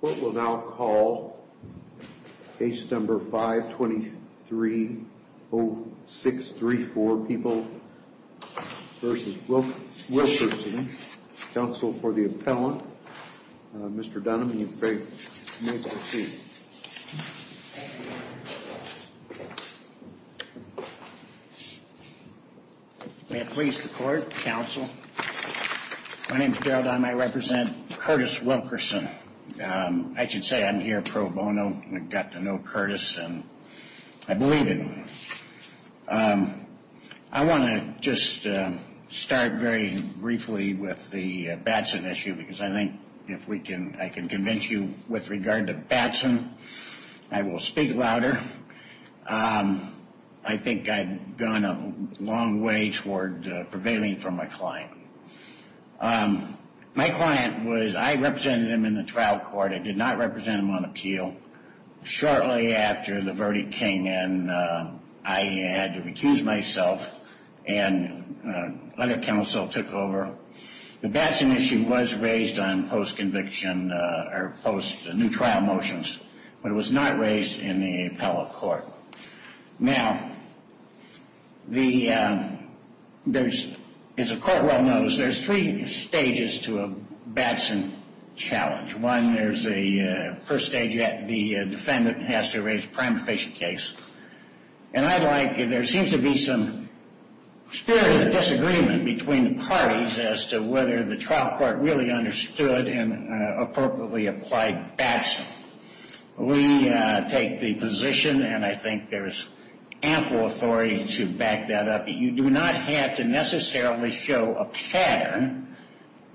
Court will now call case number 523-0634, People v. Wilkerson. Counsel for the appellant, Mr. Dunham, you may proceed. May it please the court, counsel. My name is Gerald Dunham. I represent Curtis Wilkerson. I should say I'm here pro bono and got to know Curtis and I believe him. I want to just start very briefly with the Batson issue because I think if I can convince you with regard to Batson, I will speak louder. I think I've gone a long way toward prevailing for my client. My client was, I represented him in the trial court. I did not represent him on appeal. Shortly after the verdict came in, I had to recuse myself and other counsel took over. The Batson issue was raised on post-conviction or post-new trial motions, but it was not raised in the appellate court. Now, there's, as the court well knows, there's three stages to a Batson challenge. One, there's a first stage that the defendant has to raise a prima facie case. And I'd like, there seems to be some spirit of disagreement between the parties as to whether the trial court really understood and appropriately applied Batson. We take the position and I think there's ample authority to back that up. You do not have to necessarily show a pattern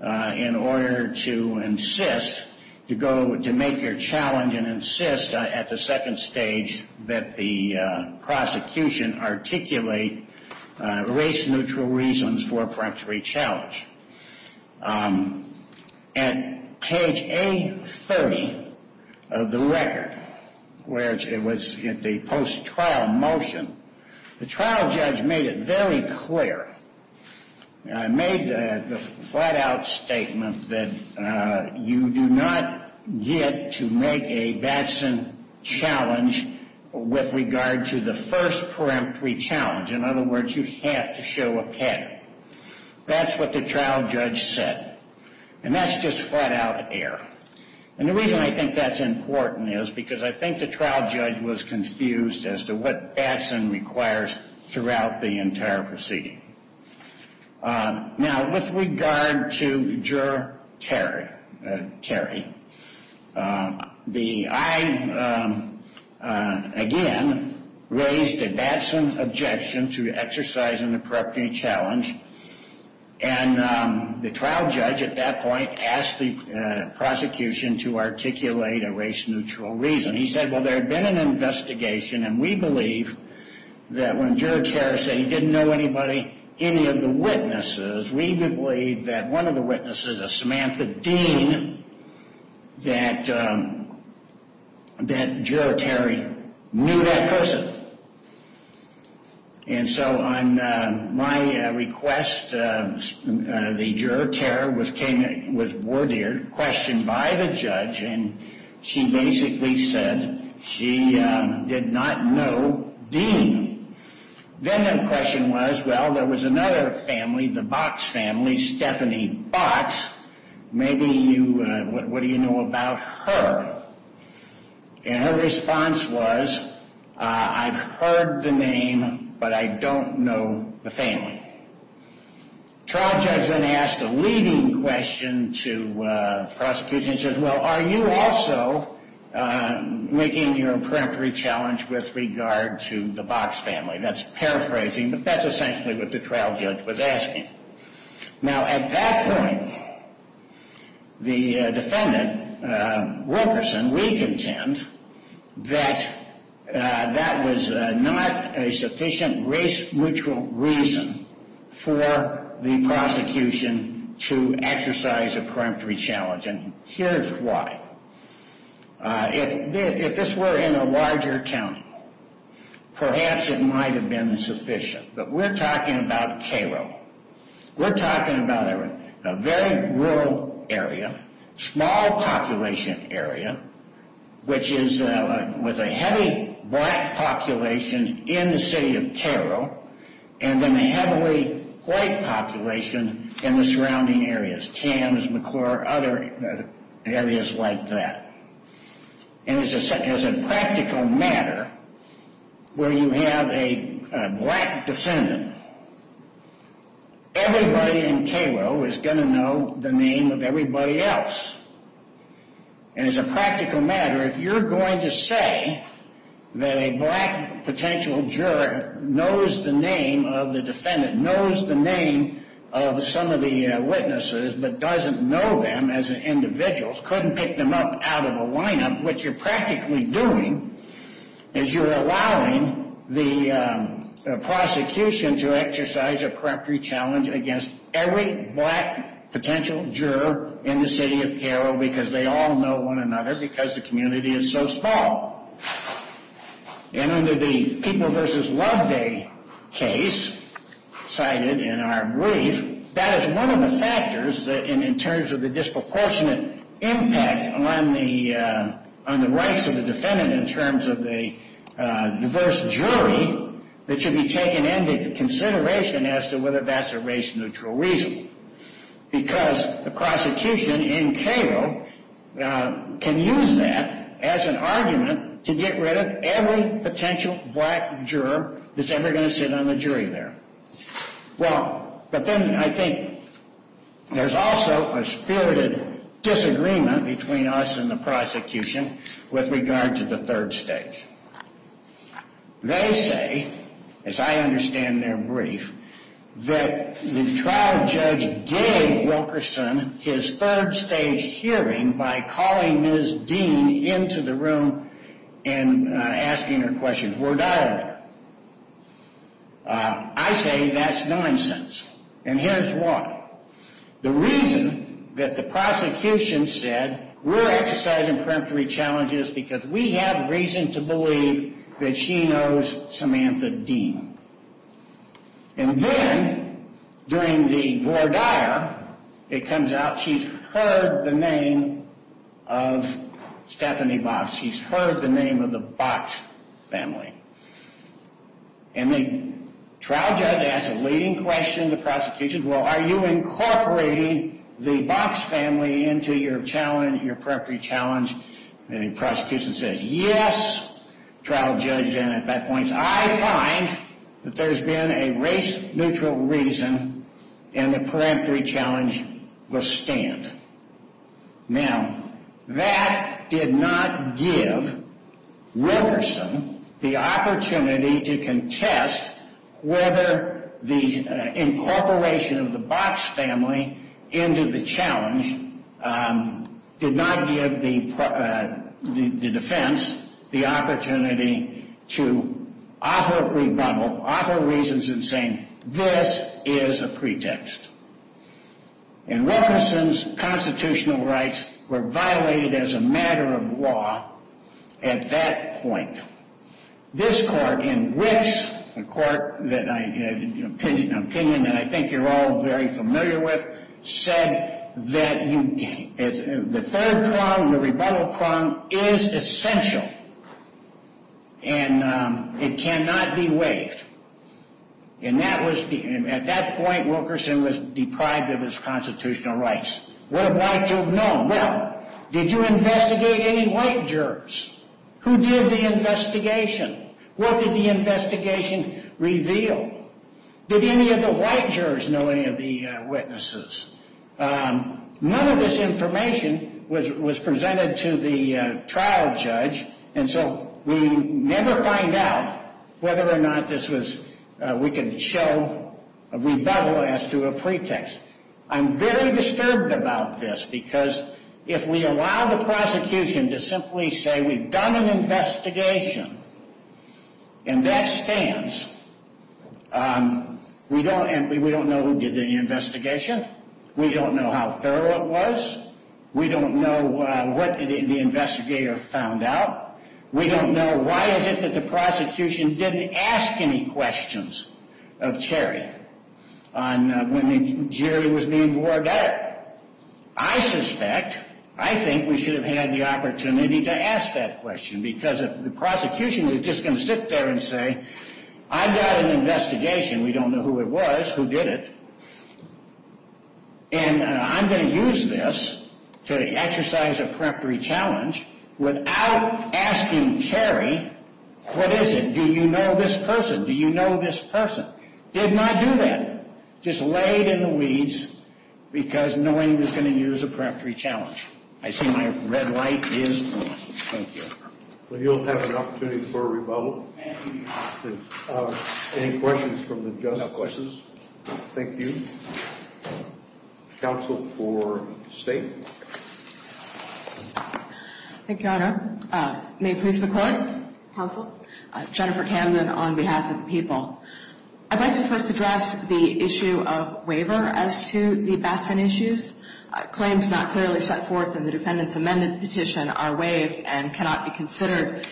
in order to insist, to go, to make your challenge and insist at the second stage that the prosecution articulate race neutral reasons for a preemptory challenge. At page A30 of the record, where it was at the post-trial motion, the trial judge made it very clear, made a flat-out statement that you do not get to make a Batson challenge with regard to the first preemptory challenge. In other words, you have to show a pattern. That's what the trial judge said. And that's just flat-out error. And the reason I think that's important is because I think the trial judge was confused as to what Batson requires throughout the entire proceeding. Now, with regard to Juror Terry, I, again, raised a Batson objection to exercising the preemptory challenge. And the trial judge at that point asked the prosecution to articulate a race neutral reason. He said, well, there had been an investigation and we believe that when Juror Terry said he didn't know anybody, any of the witnesses, we believe that one of the witnesses, a Samantha Dean, that Juror Terry knew that person. And so on my request, the Juror Terry was worded, questioned by the judge, and she basically said she did not know Dean. Then the question was, well, there was another family, the Box family, Stephanie Box. Maybe you, what do you know about her? And her response was, I've heard the name, but I don't know the family. Trial judge then asked a leading question to prosecution. He said, well, are you also making your preemptory challenge with regard to the Box family? That's paraphrasing, but that's essentially what the trial judge was asking. Now, at that point, the defendant, Wilkerson, we contend that that was not a sufficient race neutral reason for the prosecution to exercise a preemptory challenge. And here's why. If this were in a larger county, perhaps it might have been sufficient. But we're talking about Cairo. We're talking about a very rural area, small population area, which is with a heavy black population in the city of Cairo, and then a heavily white population in the surrounding areas. Tams, McClure, other areas like that. And as a practical matter, where you have a black defendant, everybody in Cairo is going to know the name of everybody else. And as a practical matter, if you're going to say that a black potential juror knows the name of the defendant, knows the name of some of the witnesses, but doesn't know them as individuals, couldn't pick them up out of a lineup, what you're practically doing is you're allowing the prosecution to exercise a preemptory challenge against every black potential juror in the city of Cairo. Because they all know one another because the community is so small. And under the People vs. Love Day case cited in our brief, that is one of the factors in terms of the disproportionate impact on the rights of the defendant in terms of the diverse jury that should be taken into consideration as to whether that's a race neutral reason. Because the prosecution in Cairo can use that as an argument to get rid of every potential black juror that's ever going to sit on the jury there. Well, but then I think there's also a spirited disagreement between us and the prosecution with regard to the third stage. They say, as I understand their brief, that the trial judge gave Wilkerson his third stage hearing by calling Ms. Dean into the room and asking her questions. I say that's nonsense. And here's why. The reason that the prosecution said, we're exercising preemptory challenges because we have reason to believe that she knows Samantha Dean. And then during the voir dire, it comes out she's heard the name of Stephanie Box. She's heard the name of the Box family. And the trial judge asks a leading question to the prosecution, well, are you incorporating the Box family into your challenge, your preemptory challenge? And the prosecution says, yes. Trial judge then at that point says, I find that there's been a race neutral reason and the preemptory challenge will stand. Now, that did not give Wilkerson the opportunity to contest whether the incorporation of the Box family into the challenge did not give the defense the opportunity to offer rebuttal, offer reasons in saying this is a pretext. And Wilkerson's constitutional rights were violated as a matter of law at that point. This court in which the court that I had an opinion that I think you're all very familiar with said that the third prong, the rebuttal prong is essential and it cannot be waived. And at that point, Wilkerson was deprived of his constitutional rights. What have white jurors known? Well, did you investigate any white jurors? Who did the investigation? What did the investigation reveal? Did any of the white jurors know any of the witnesses? None of this information was presented to the trial judge and so we never find out whether or not this was, we can show a rebuttal as to a pretext. I'm very disturbed about this because if we allow the prosecution to simply say we've done an investigation and that stands, we don't know who did the investigation, we don't know how thorough it was, we don't know what the investigator found out. We don't know why is it that the prosecution didn't ask any questions of Cherry on when the jury was being boarded up. I suspect, I think we should have had the opportunity to ask that question because if the prosecution was just going to sit there and say I've got an investigation, we don't know who it was, who did it. And I'm going to use this to exercise a preemptory challenge without asking Cherry, what is it? Do you know this person? Do you know this person? Did not do that. Just laid in the weeds because no one was going to use a preemptory challenge. I see my red light is on. Thank you. You'll have an opportunity for a rebuttal. Any questions from the judges? No questions. Thank you. Counsel for State. Thank you, Your Honor. May it please the Court? Counsel. Jennifer Camden on behalf of the people. I'd like to first address the issue of waiver as to the Batson issues. Claims not clearly set forth in the defendant's amended petition are waived and cannot be considered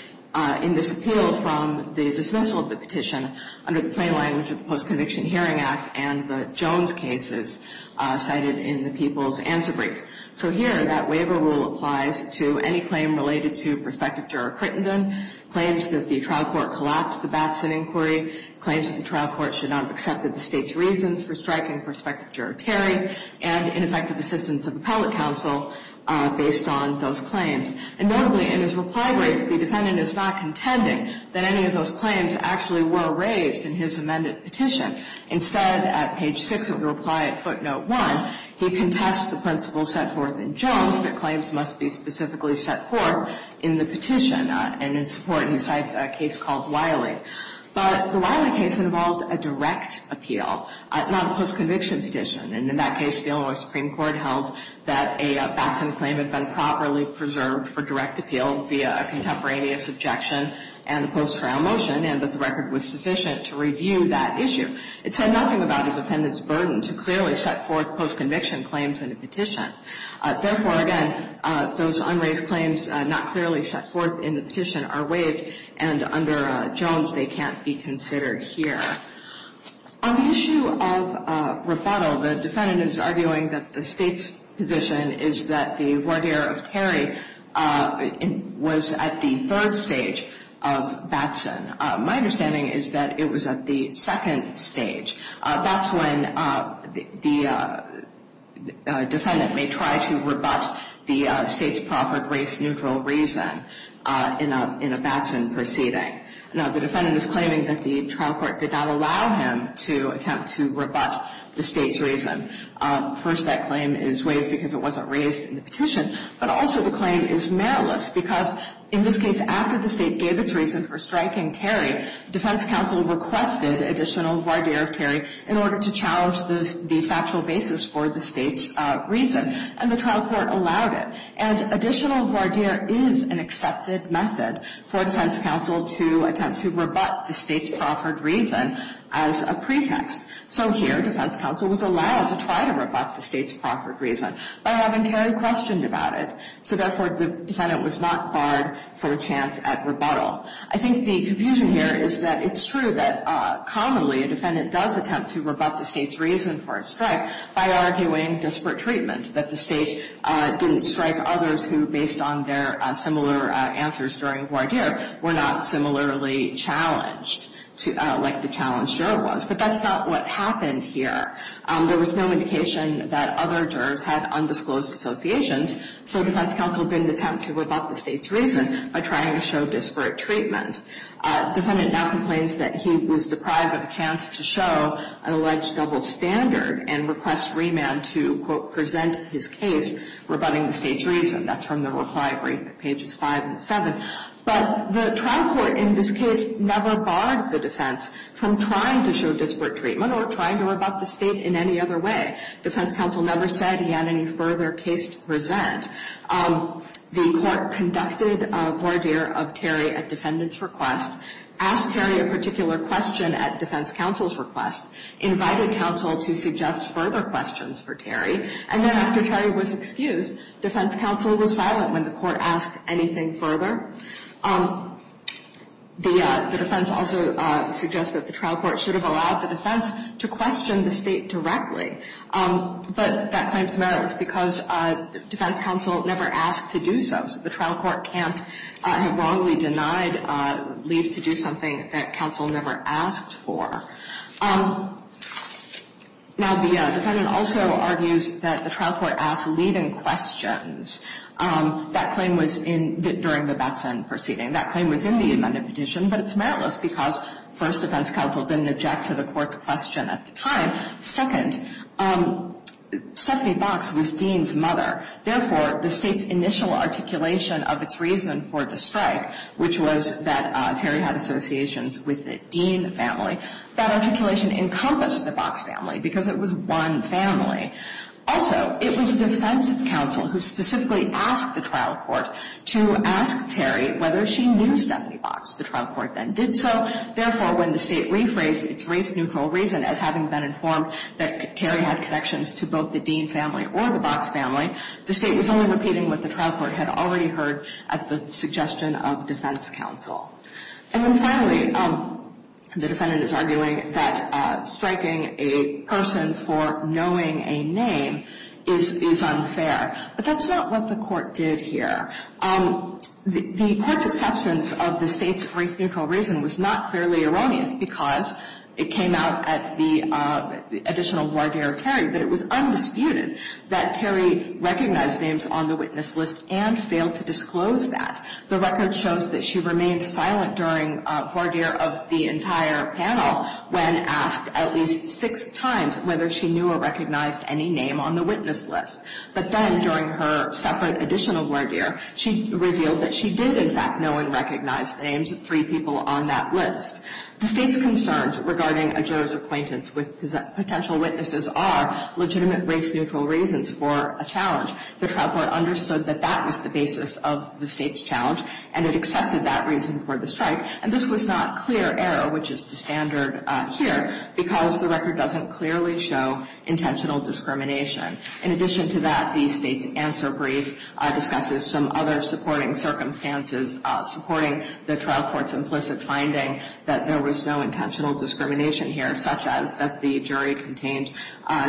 in this appeal from the dismissal of the petition under the plain language of the Post-Conviction Hearing Act and the Jones cases cited in the people's answer brief. So here, that waiver rule applies to any claim related to prospective juror Crittenden, claims that the trial court collapsed the Batson inquiry, claims that the trial court should not have accepted the State's reasons for striking prospective juror Terry, and ineffective assistance of appellate counsel based on those claims. And notably, in his reply brief, the defendant is not contending that any of those claims actually were raised in his amended petition. Instead, at page 6 of the reply at footnote 1, he contests the principle set forth in Jones that claims must be specifically set forth in the petition and in support, and he cites a case called Wiley. But the Wiley case involved a direct appeal, not a post-conviction petition. And in that case, the Illinois Supreme Court held that a Batson claim had been properly preserved for direct appeal via a contemporaneous objection and a post-trial motion and that the record was sufficient to review that issue. It said nothing about the defendant's burden to clearly set forth post-conviction claims in a petition. Therefore, again, those unraised claims not clearly set forth in the petition are waived, and under Jones, they can't be considered here. On the issue of rebuttal, the defendant is arguing that the State's position is that the voir dire of Terry was at the third stage of Batson. My understanding is that it was at the second stage. That's when the defendant may try to rebut the State's proffered race-neutral reason in a Batson proceeding. Now, the defendant is claiming that the trial court did not allow him to attempt to rebut the State's reason. First, that claim is waived because it wasn't raised in the petition. But also the claim is meriless because, in this case, after the State gave its reason for striking Terry, defense counsel requested additional voir dire of Terry in order to challenge the factual basis for the State's reason. And the trial court allowed it. And additional voir dire is an accepted method for defense counsel to attempt to rebut the State's proffered reason as a pretext. So here, defense counsel was allowed to try to rebut the State's proffered reason by having Terry questioned about it. So, therefore, the defendant was not barred for a chance at rebuttal. I think the confusion here is that it's true that commonly a defendant does attempt to rebut the State's reason for its strike by arguing disparate treatment, that the State didn't strike others who, based on their similar answers during voir dire, were not similarly challenged, like the challenge sure was. But that's not what happened here. There was no indication that other jurors had undisclosed associations. So defense counsel didn't attempt to rebut the State's reason by trying to show disparate treatment. Defendant now complains that he was deprived of a chance to show an alleged double standard and requests remand to, quote, present his case rebutting the State's reason. That's from the reply brief at pages 5 and 7. But the trial court in this case never barred the defense from trying to show disparate treatment or trying to rebut the State in any other way. Defense counsel never said he had any further case to present. The court conducted voir dire of Terry at defendant's request, asked Terry a particular question at defense counsel's request, invited counsel to suggest further questions for Terry, and then after Terry was excused, defense counsel was silent when the court asked anything further. The defense also suggests that the trial court should have allowed the defense to question the State directly. But that claims the matter was because defense counsel never asked to do so. So the trial court can't have wrongly denied leave to do something that counsel never asked for. Now, the defendant also argues that the trial court asked leave in questions. That claim was in the ‑‑ during the Batson proceeding. That claim was in the amended petition, but it's meritless because, first, defense counsel didn't object to the court's question at the time. Second, Stephanie Box was Dean's mother. Therefore, the State's initial articulation of its reason for the strike, which was that Terry had associations with the Dean family, that articulation encompassed the Box family because it was one family. Also, it was defense counsel who specifically asked the trial court to ask Terry whether she knew Stephanie Box. The trial court then did so. Therefore, when the State rephrased its race-neutral reason as having been informed that Terry had connections to both the Dean family or the Box family, the State was only repeating what the trial court had already heard at the suggestion of defense counsel. And then finally, the defendant is arguing that striking a person for knowing a name is unfair. But that's not what the court did here. The court's acceptance of the State's race-neutral reason was not clearly erroneous because it came out at the additional warning of Terry that it was undisputed that Terry recognized names on the witness list and failed to disclose that. The record shows that she remained silent during voir dire of the entire panel when asked at least six times whether she knew or recognized any name on the witness list. But then during her separate additional voir dire, she revealed that she did, in fact, know and recognize the names of three people on that list. The State's concerns regarding a juror's acquaintance with potential witnesses are legitimate race-neutral reasons for a challenge. The trial court understood that that was the basis of the State's challenge, and it accepted that reason for the strike. And this was not clear error, which is the standard here, because the record doesn't clearly show intentional discrimination. In addition to that, the State's answer brief discusses some other supporting circumstances, supporting the trial court's implicit finding that there was no intentional discrimination here, such as that the jury contained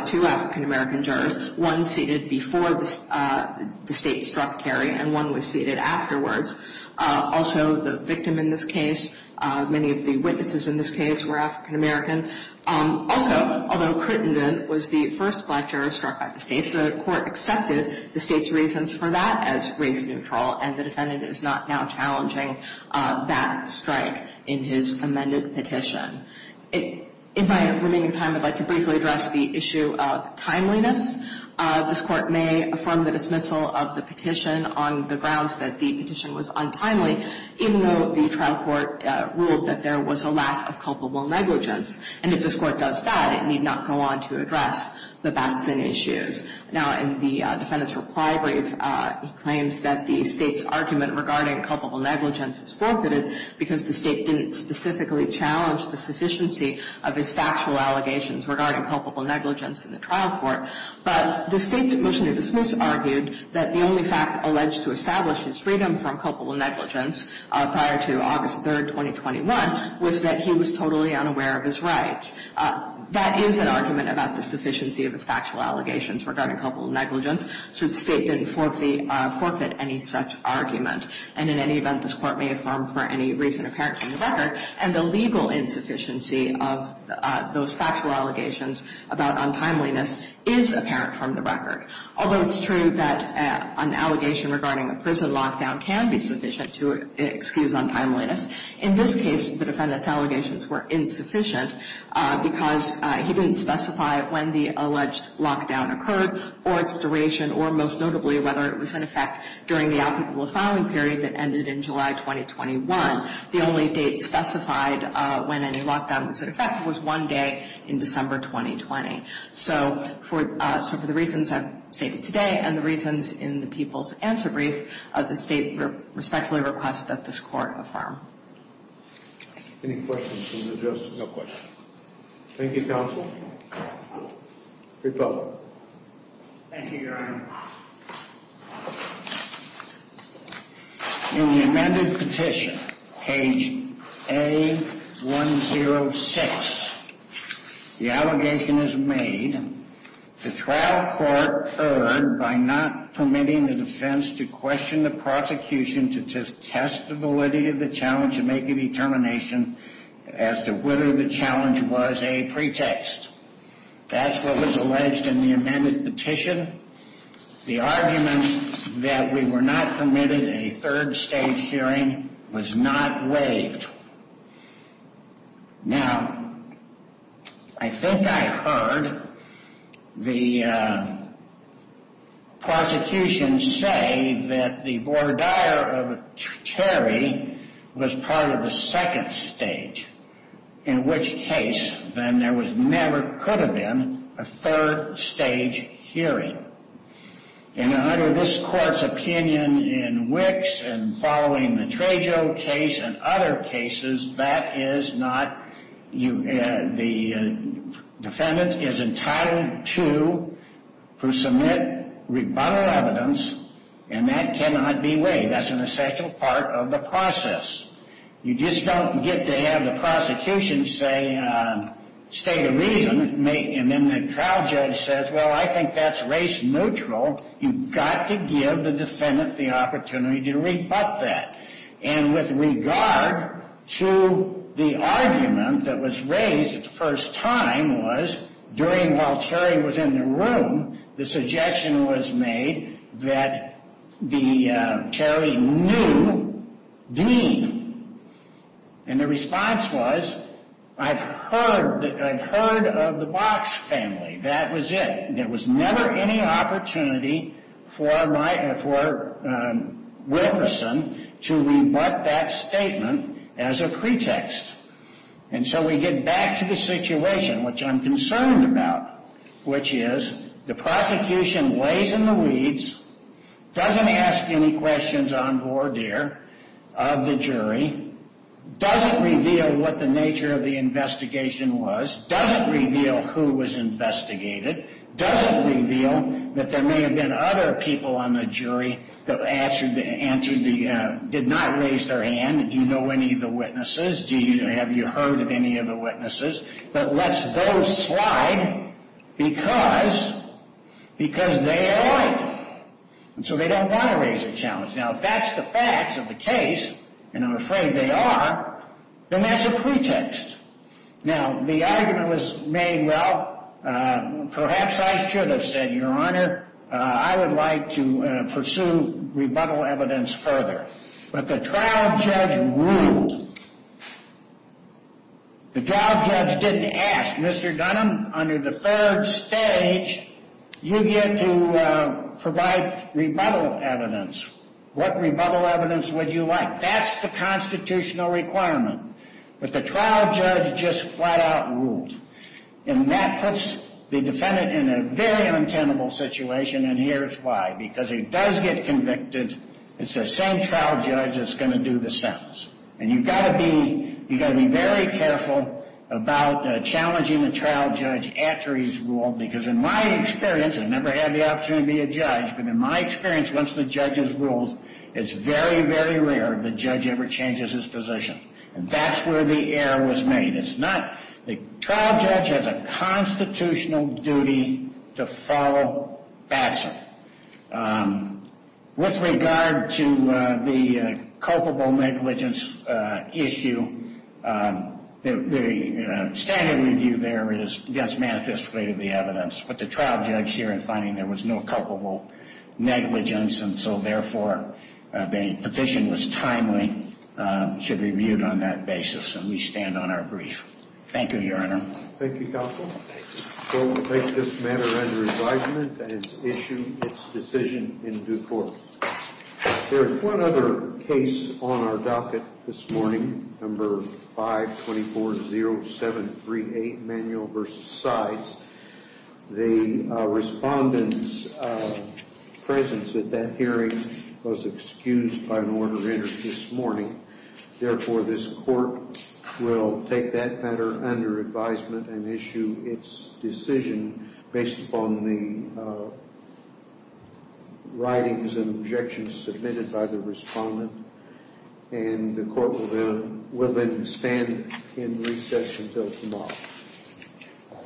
two African-American jurors, one seated before the State struck Terry and one was seated afterwards. Also, the victim in this case, many of the witnesses in this case were African-American. Also, although Crittenden was the first black juror struck by the State, the court accepted the State's reasons for that as race-neutral, and the defendant is not now challenging that strike in his amended petition. In my remaining time, I'd like to briefly address the issue of timeliness. This Court may affirm the dismissal of the petition on the grounds that the petition was untimely, even though the trial court ruled that there was a lack of culpable negligence. And if this Court does that, it need not go on to address the Batson issues. Now, in the defendant's reply brief, he claims that the State's argument regarding culpable negligence is forfeited because the State didn't specifically challenge the sufficiency of his factual allegations regarding culpable negligence in the trial court. But the State's motion to dismiss argued that the only fact alleged to establish his freedom from culpable negligence prior to August 3, 2021, was that he was totally unaware of his rights. That is an argument about the sufficiency of his factual allegations regarding culpable negligence, so the State didn't forfeit any such argument. And in any event, this Court may affirm for any reason apparent from the record, and the legal insufficiency of those factual allegations about untimeliness is apparent from the record. Although it's true that an allegation regarding a prison lockdown can be sufficient to excuse untimeliness, in this case, the defendant's allegations were insufficient because he didn't specify when the alleged lockdown occurred or its duration, or most notably, whether it was in effect during the applicable filing period that ended in July 2021. The only date specified when any lockdown was in effect was one day in December 2020. So for the reasons I've stated today and the reasons in the People's Answer Brief, the State respectfully requests that this Court affirm. Any questions for the judge? No questions. Thank you, counsel. Great job. Thank you, Your Honor. In the amended petition, page A106, the allegation is made, the trial court erred by not permitting the defense to question the prosecution to test the validity of the challenge and make a determination as to whether the challenge was a pretext. That's what was alleged in the amended petition. The argument that we were not permitted a third-stage hearing was not waived. Now, I think I heard the prosecution say that the voir dire of Terry was part of the second stage, in which case, then, there never could have been a third-stage hearing. And under this Court's opinion in Wicks and following the Trejo case and other cases, the defendant is entitled to submit rebuttal evidence, and that cannot be waived. That's an essential part of the process. You just don't get to have the prosecution state a reason, and then the trial judge says, well, I think that's race-neutral. You've got to give the defendant the opportunity to rebut that. And with regard to the argument that was raised the first time was, during while Terry was in the room, the suggestion was made that Terry knew Dean. And the response was, I've heard of the Box family. That was it. There was never any opportunity for Wilkerson to rebut that statement as a pretext. And so we get back to the situation, which I'm concerned about, which is the prosecution lays in the weeds, doesn't ask any questions on board there of the jury, doesn't reveal what the nature of the investigation was, doesn't reveal who was investigated, doesn't reveal that there may have been other people on the jury that did not raise their hand. Do you know any of the witnesses? Have you heard of any of the witnesses? That lets those slide because they are right. And so they don't want to raise a challenge. Now, if that's the facts of the case, and I'm afraid they are, then that's a pretext. Now, the argument was made, well, perhaps I should have said, Your Honor, I would like to pursue rebuttal evidence further. But the trial judge ruled. The trial judge didn't ask, Mr. Dunham, under the third stage, you get to provide rebuttal evidence. What rebuttal evidence would you like? That's the constitutional requirement. But the trial judge just flat out ruled. And that puts the defendant in a very untenable situation, and here's why. Because he does get convicted. It's the same trial judge that's going to do the sentence. And you've got to be very careful about challenging the trial judge after he's ruled, because in my experience, I've never had the opportunity to be a judge, but in my experience, once the judge has ruled, it's very, very rare the judge ever changes his position. And that's where the error was made. It's not the trial judge has a constitutional duty to follow Batson. With regard to the culpable negligence issue, the standard review there is against manifest grade of the evidence. But the trial judge here in finding there was no culpable negligence, and so therefore the petition was timely, should be reviewed on that basis. And we stand on our brief. Thank you, Your Honor. Thank you, Counsel. The court will take this matter under advisement and issue its decision in due course. There is one other case on our docket this morning, number 524-0738, manual versus sides. The respondent's presence at that hearing was excused by an order entered this morning. Therefore, this court will take that matter under advisement and issue its decision based upon the writings and objections submitted by the respondent. And the court will then stand in recess until tomorrow.